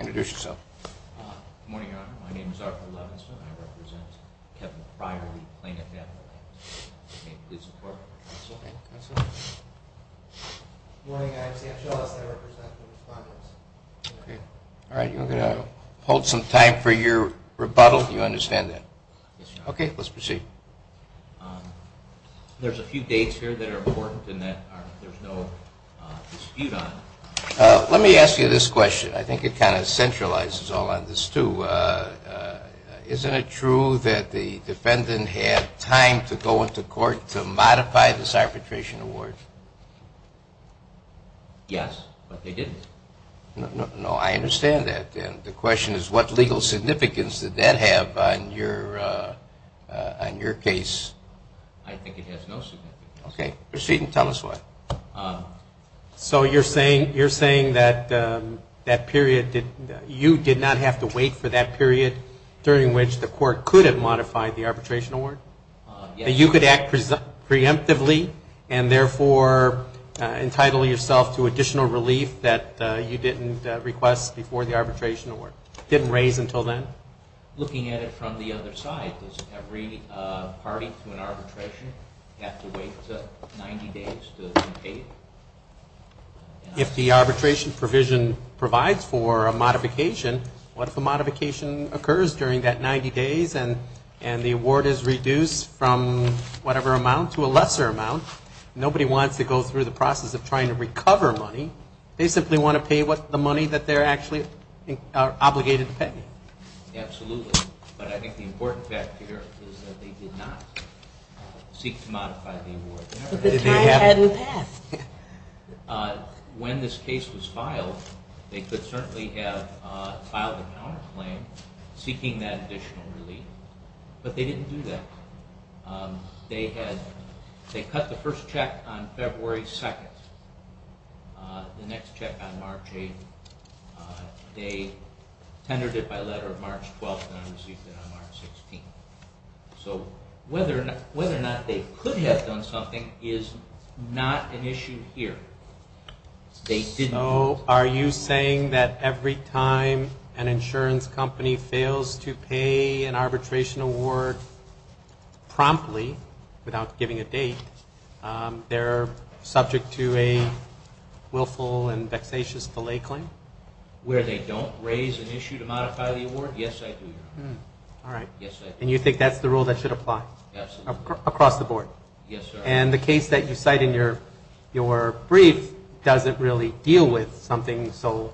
Introduce yourself. Good morning, Your Honor. My name is Arthur Levenstam. I represent Kevin Pryor v. Plaintiff Advocates. Can you please support counsel? Good morning, I'm Sam Shaw. I represent the Respondents. Okay. All right. You're going to hold some time for your rebuttal. You understand that? Yes, Your Honor. Okay. Let's proceed. There's a few dates here that are important and that there's no dispute on. Let me ask you this question. I think it kind of centralizes all on this, too. Isn't it true that the defendant had time to go into court to modify this arbitration award? Yes, but they didn't. No, I understand that. And the question is what legal significance did that have on your case? I think it has no significance. Okay. Proceed and tell us why. So you're saying that that period, you did not have to wait for that period during which the court could have modified the arbitration award? Yes. And you could act preemptively and therefore entitle yourself to additional relief that you didn't request before the arbitration award? Didn't raise until then? Looking at it from the other side, does every party to an arbitration have to wait 90 days to pay? If the arbitration provision provides for a modification, what if a modification occurs during that 90 days and the award is reduced from whatever amount to a lesser amount? Nobody wants to go through the process of trying to recover money. They simply want to pay the money that they're actually obligated to pay. Absolutely. But I think the important fact here is that they did not seek to modify the award. But the time hadn't passed. When this case was filed, they could certainly have filed a counterclaim seeking that additional relief, but they didn't do that. They cut the first check on February 2nd. The next check on March 8th. They tendered it by letter on March 12th and I received it on March 16th. So whether or not they could have done something is not an issue here. So are you saying that every time an insurance company fails to pay an arbitration award promptly without giving a date, they're subject to a willful and vexatious delay claim? Where they don't raise an issue to modify the award? Yes, I do. And you think that's the rule that should apply across the board? Yes, sir. And the case that you cite in your brief doesn't really deal with something so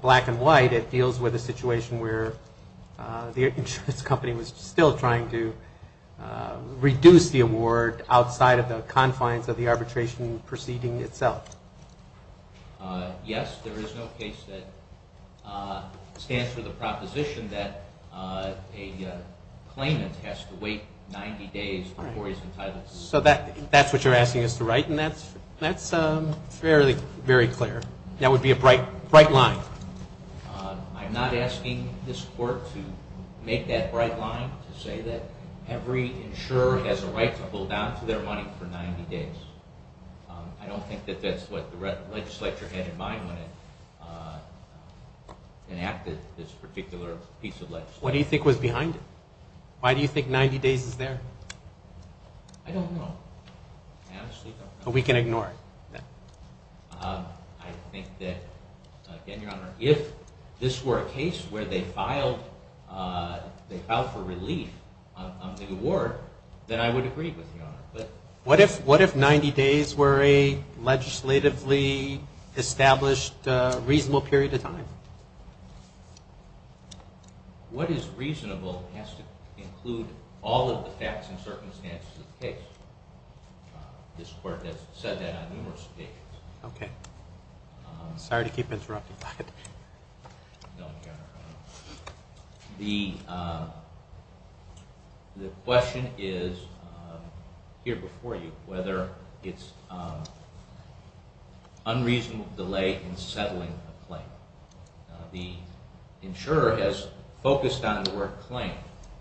black and white. It deals with a situation where the insurance company was still trying to reduce the award outside of the confines of the arbitration proceeding itself. Yes, there is no case that stands for the proposition that a claimant has to wait 90 days before he's entitled to the award. So that's what you're asking us to write and that's fairly very clear. That would be a bright line. I'm not asking this court to make that bright line to say that every insurer has a right to hold down to their money for 90 days. I don't think that that's what the legislature had in mind when it enacted this particular piece of legislation. What do you think was behind it? Why do you think 90 days is there? I don't know. We can ignore it. I think that, again, Your Honor, if this were a case where they filed for relief on the award, then I would agree with you. What if 90 days were a legislatively established reasonable period of time? What is reasonable has to include all of the facts and circumstances of the case. This court has said that on numerous occasions. Okay. Sorry to keep interrupting. No, Your Honor. The question is here before you whether it's unreasonable delay in settling a claim. The insurer has focused on the word claim.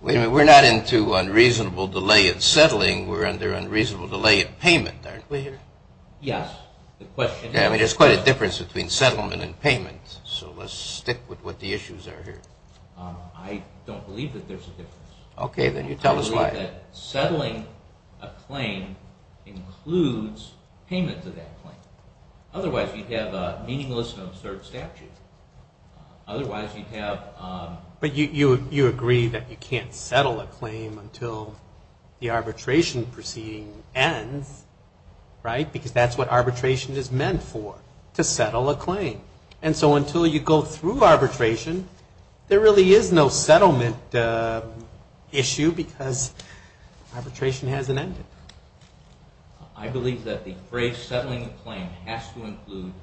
We're not into unreasonable delay in settling. We're under unreasonable delay in payment, aren't we here? Yes. I mean, there's quite a difference between settlement and payment, so let's stick with what the issues are here. I don't believe that there's a difference. Okay, then you tell us why. I believe that settling a claim includes payment to that claim. Otherwise, you'd have a meaningless and absurd statute. Otherwise, you'd have – But you agree that you can't settle a claim until the arbitration proceeding ends, right? Because that's what arbitration is meant for, to settle a claim. And so until you go through arbitration, there really is no settlement issue because arbitration hasn't ended. I believe that the phrase settling a claim has to include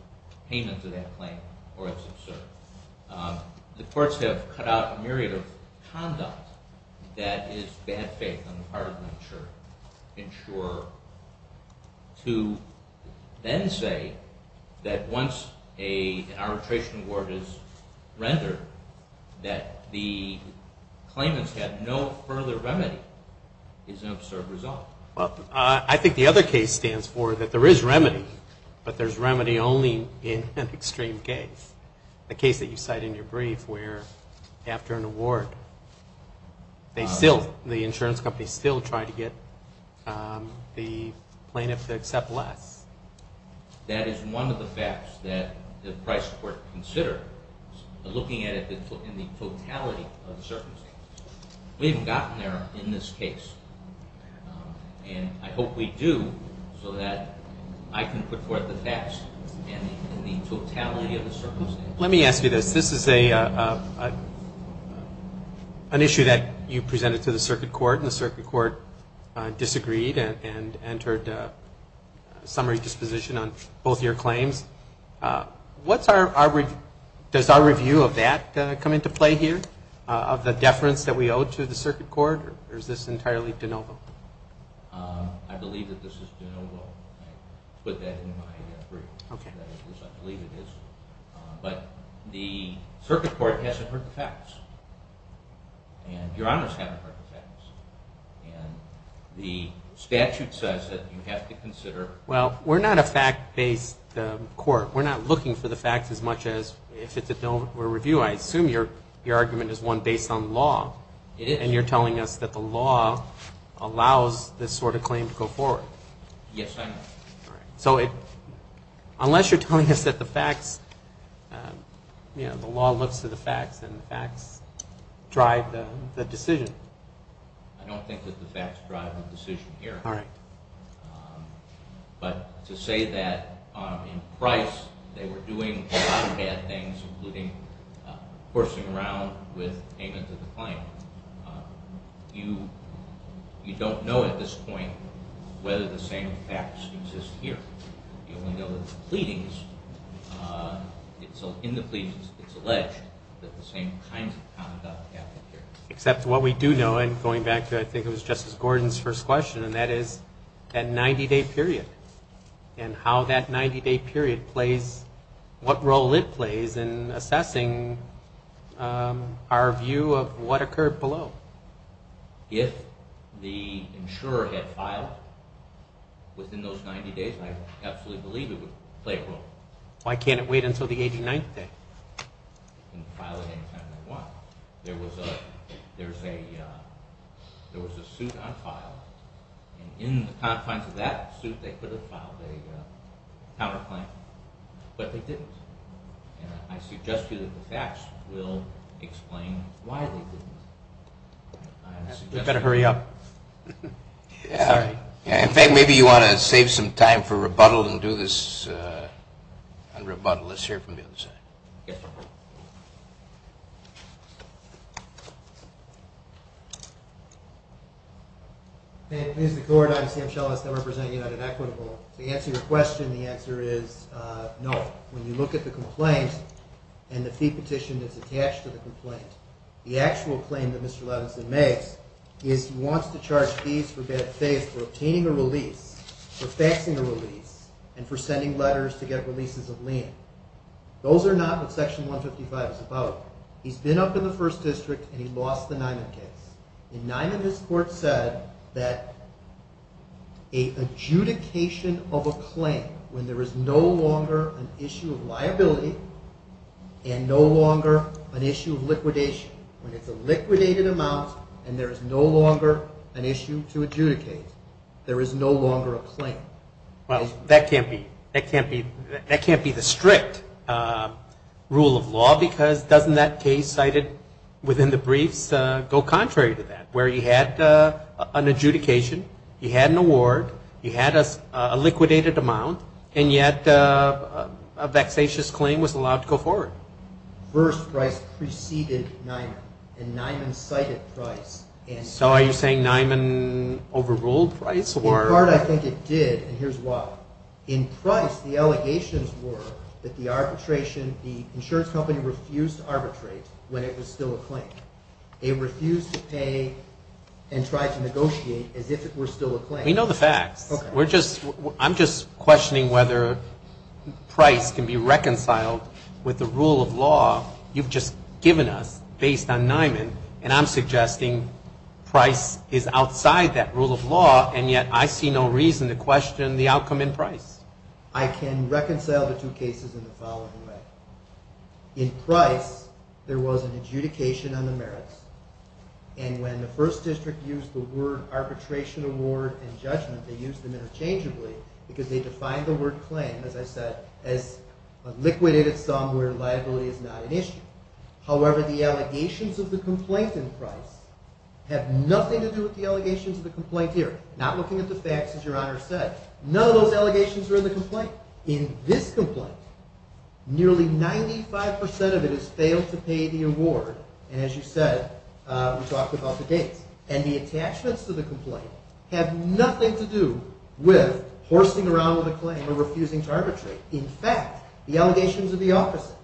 payment to that claim or it's absurd. The courts have cut out a myriad of conduct that is bad faith on the part of the insurer. To then say that once an arbitration award is rendered that the claimant's had no further remedy is an absurd result. I think the other case stands for that there is remedy, but there's remedy only in an extreme case. The case that you cite in your brief where after an award, the insurance company still tried to get the plaintiff to accept less. That is one of the facts that the Price Court considered, looking at it in the totality of the circumstances. We haven't gotten there in this case. And I hope we do so that I can put forth the facts in the totality of the circumstances. Let me ask you this. This is an issue that you presented to the circuit court and the circuit court disagreed and entered a summary disposition on both your claims. Does our review of that come into play here? Of the deference that we owe to the circuit court? Or is this entirely de novo? I believe that this is de novo. I put that in my brief. I believe it is. But the circuit court hasn't heard the facts. And your honors haven't heard the facts. And the statute says that you have to consider... Well, we're not a fact-based court. We're not looking for the facts as much as if it's a bill for review. I assume your argument is one based on law. It is. And you're telling us that the law allows this sort of claim to go forward. Yes, I am. All right. So unless you're telling us that the facts, you know, the law looks to the facts and the facts drive the decision. I don't think that the facts drive the decision here. All right. But to say that in price they were doing a lot of bad things, including horsing around with payment to the client, you don't know at this point whether the same facts exist here. You only know that the pleadings, in the pleadings it's alleged that the same kind of conduct happened here. Except what we do know, and going back to I think it was Justice Gordon's first question, and that is that 90-day period and how that 90-day period plays, what role it plays in assessing our view of what occurred below. If the insurer had filed within those 90 days, I absolutely believe it would play a role. Why can't it wait until the 89th day? They can file it any time they want. There was a suit on file, and in the confines of that suit they could have filed a counterclaim, but they didn't. And I suggest to you that the facts will explain why they didn't. We better hurry up. Sorry. In fact, maybe you want to save some time for rebuttal and do this un-rebuttal. Let's hear it from the other side. Yes, sir. Here's the court. I'm Sam Shellis. I represent United Equitable. To answer your question, the answer is no. When you look at the complaint and the fee petition that's attached to the complaint, the actual claim that Mr. Levinson makes is he wants to charge fees for obtaining a release, for faxing a release, and for sending letters to get releases of lien. Those are not what Section 155 is about. He's been up in the First District, and he lost the Niman case. In Niman, this court said that an adjudication of a claim when there is no longer an issue of liability and no longer an issue of liquidation, when it's a liquidated amount and there is no longer an issue to adjudicate, there is no longer a claim. Well, that can't be the strict rule of law because doesn't that case cited within the briefs go contrary to that, where he had an adjudication, he had an award, he had a liquidated amount, and yet a vexatious claim was allowed to go forward. First, Price preceded Niman, and Niman cited Price. So are you saying Niman overruled Price? In part, I think it did, and here's why. In Price, the allegations were that the arbitration, the insurance company refused to arbitrate when it was still a claim. They refused to pay and tried to negotiate as if it were still a claim. We know the facts. I'm just questioning whether Price can be reconciled with the rule of law you've just given us based on Niman, and I'm suggesting Price is outside that rule of law, and yet I see no reason to question the outcome in Price. I can reconcile the two cases in the following way. In Price, there was an adjudication on the merits, and when the First District used the word arbitration, award, and judgment, they used them interchangeably because they defined the word claim, as I said, as a liquidated sum where liability is not an issue. However, the allegations of the complaint in Price have nothing to do with the allegations of the complaint here. Not looking at the facts, as Your Honor said. None of those allegations are in the complaint. In this complaint, nearly 95% of it is failed to pay the award, and as you said, we talked about the dates, and the attachments to the complaint have nothing to do with horsing around with a claim or refusing to arbitrate. In fact, the allegations are the opposite.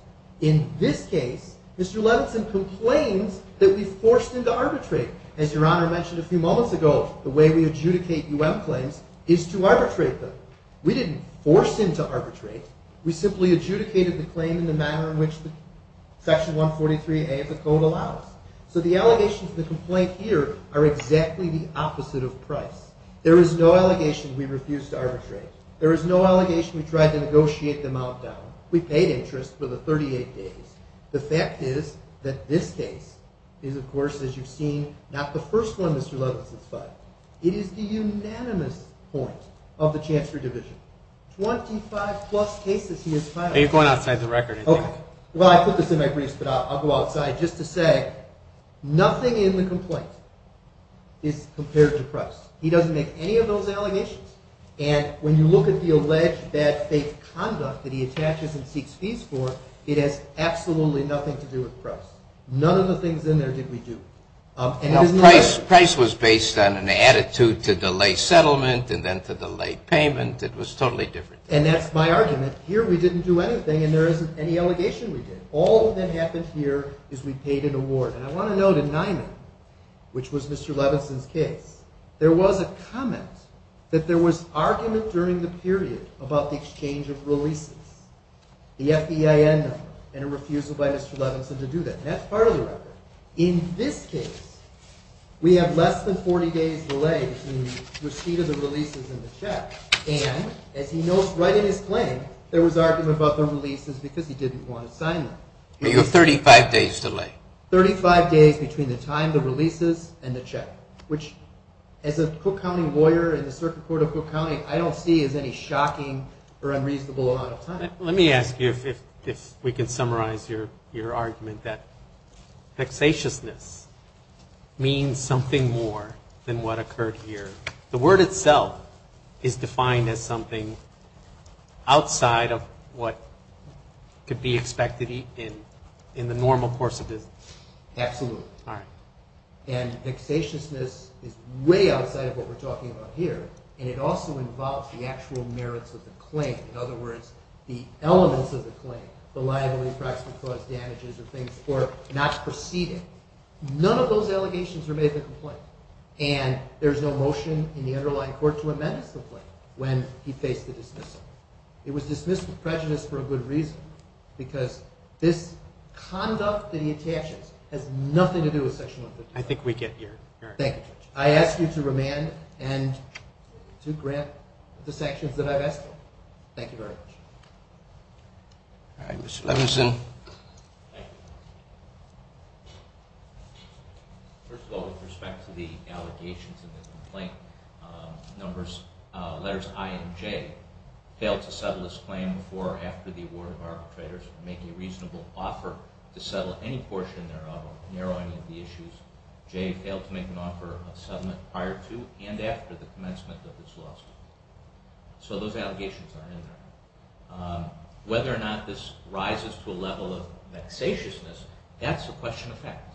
In this case, Mr. Levinson complains that we forced him to arbitrate. As Your Honor mentioned a few moments ago, the way we adjudicate U.M. claims is to arbitrate them. We didn't force him to arbitrate. We simply adjudicated the claim in the manner in which Section 143A of the Code allows. So the allegations of the complaint here are exactly the opposite of Price. There is no allegation we refused to arbitrate. There is no allegation we tried to negotiate the amount down. We paid interest for the 38 days. The fact is that this case is, of course, as you've seen, not the first one, Mr. Levinson, but it is the unanimous point of the Chancery Division. Twenty-five-plus cases he has filed. You're going outside the record, I think. Well, I put this in my briefs, but I'll go outside just to say nothing in the complaint is compared to Price. He doesn't make any of those allegations. And when you look at the alleged bad faith conduct that he attaches and seeks fees for, it has absolutely nothing to do with Price. None of the things in there did we do. Price was based on an attitude to delay settlement and then to delay payment. It was totally different. And that's my argument. Here we didn't do anything, and there isn't any allegation we did. All that happened here is we paid an award. And I want to note in Nyman, which was Mr. Levinson's case, there was a comment that there was argument during the period about the exchange of releases, the FEIN number, and a refusal by Mr. Levinson to do that. And that's part of the record. In this case, we have less than 40 days delay between the receipt of the releases and the check. And as he notes right in his claim, there was argument about the releases because he didn't want to sign them. You have 35 days delay. Thirty-five days between the time, the releases, and the check, which as a Cook County lawyer in the Circuit Court of Cook County, I don't see as any shocking or unreasonable amount of time. Let me ask you if we can summarize your argument that vexatiousness means something more than what occurred here. The word itself is defined as something outside of what could be expected in the normal course of business. Absolutely. All right. And vexatiousness is way outside of what we're talking about here, and it also involves the actual merits of the claim. In other words, the elements of the claim, the liability, price, and cost, damages, and things, were not preceded. None of those allegations were made in the complaint, and there's no motion in the underlying court to amend this complaint when he faced the dismissal. It was dismissed with prejudice for a good reason, because this conduct that he attaches has nothing to do with Section 152. I think we get your argument. Thank you, Judge. I ask you to remand and to grant the sanctions that I've asked for. Thank you very much. All right. Mr. Levenson. Thank you. First of all, with respect to the allegations in the complaint, letters I and J failed to settle this claim before or after the award of arbitrators would make a reasonable offer to settle any portion thereof, narrow any of the issues. J failed to make an offer of settlement prior to and after the commencement of this lawsuit. So those allegations are in there. Whether or not this rises to a level of vexatiousness, that's a question of fact,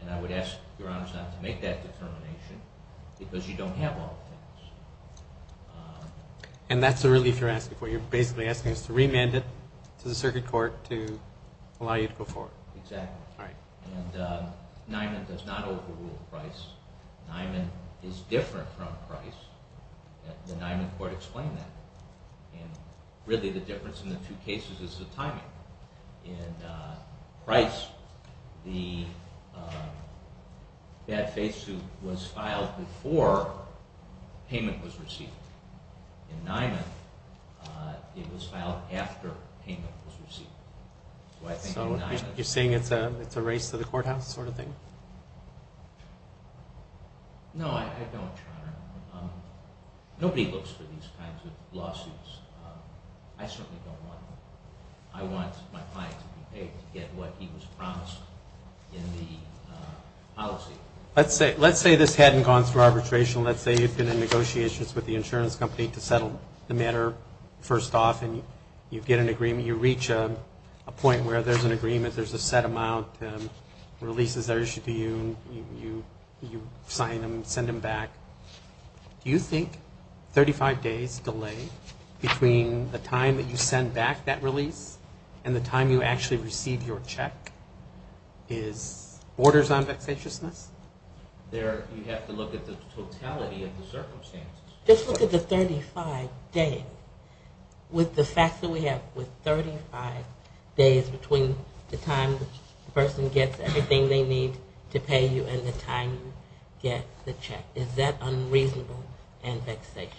and I would ask Your Honors not to make that determination because you don't have all the facts. And that's the relief you're asking for. You're basically asking us to remand it to the circuit court to allow you to go forward. Exactly. All right. And Niman does not overrule Price. Niman is different from Price. The Niman court explained that. And really the difference in the two cases is the timing. In Price, the bad faith suit was filed before payment was received. In Niman, it was filed after payment was received. So you're saying it's a race to the courthouse sort of thing? No, I don't, Your Honor. Nobody looks for these kinds of lawsuits. I certainly don't want to. I want my client to be paid to get what he was promised in the policy. Let's say this hadn't gone through arbitration. Let's say you've been in negotiations with the insurance company to settle the matter first off and you get an agreement, you reach a point where there's an agreement, there's a set amount, releases are issued to you, you sign them, send them back. Do you think 35 days delay between the time that you send back that release and the time you actually receive your check is borders on vexatiousness? You have to look at the totality of the circumstances. Just look at the 35 days. With the fact that we have 35 days between the time the person gets everything they need to pay you and the time you get the check, is that unreasonable and vexatious?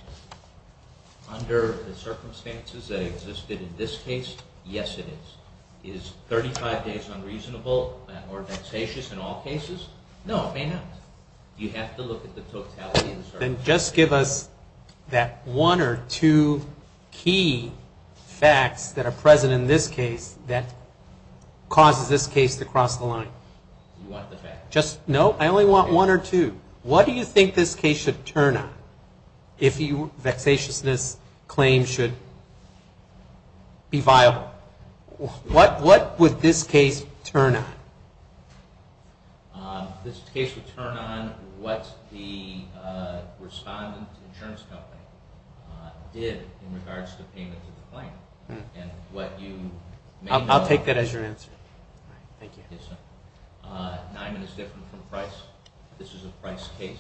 Under the circumstances that existed in this case, yes, it is. Is 35 days unreasonable or vexatious in all cases? No, it may not. You have to look at the totality of the circumstances. All right. Then just give us that one or two key facts that are present in this case that causes this case to cross the line. Do you want the facts? No, I only want one or two. What do you think this case should turn on if the vexatiousness claim should be viable? What would this case turn on? This case would turn on what the respondent insurance company did in regards to payment to the claim. I'll take that as your answer. All right. Thank you. Nyman is different from Price. This is a Price case.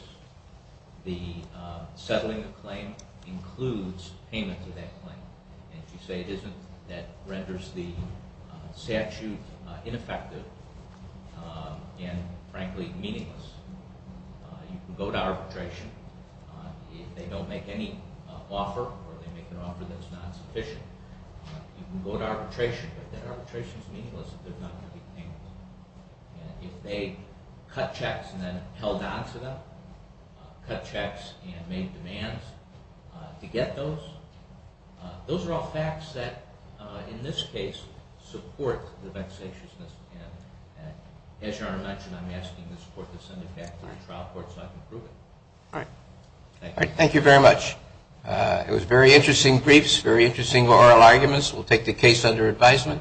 The settling of claim includes payment to that claim. If you say it isn't, that renders the statute ineffective and, frankly, meaningless. You can go to arbitration. If they don't make any offer or they make an offer that's not sufficient, you can go to arbitration. But that arbitration is meaningless if they're not going to be paying. If they cut checks and then held on to them, cut checks and made demands to get those, those are all facts that, in this case, support the vexatiousness. As Your Honor mentioned, I'm asking this court to send it back to the trial court so I can prove it. All right. Thank you. Thank you very much. It was very interesting briefs, very interesting oral arguments. We'll take the case under advisement.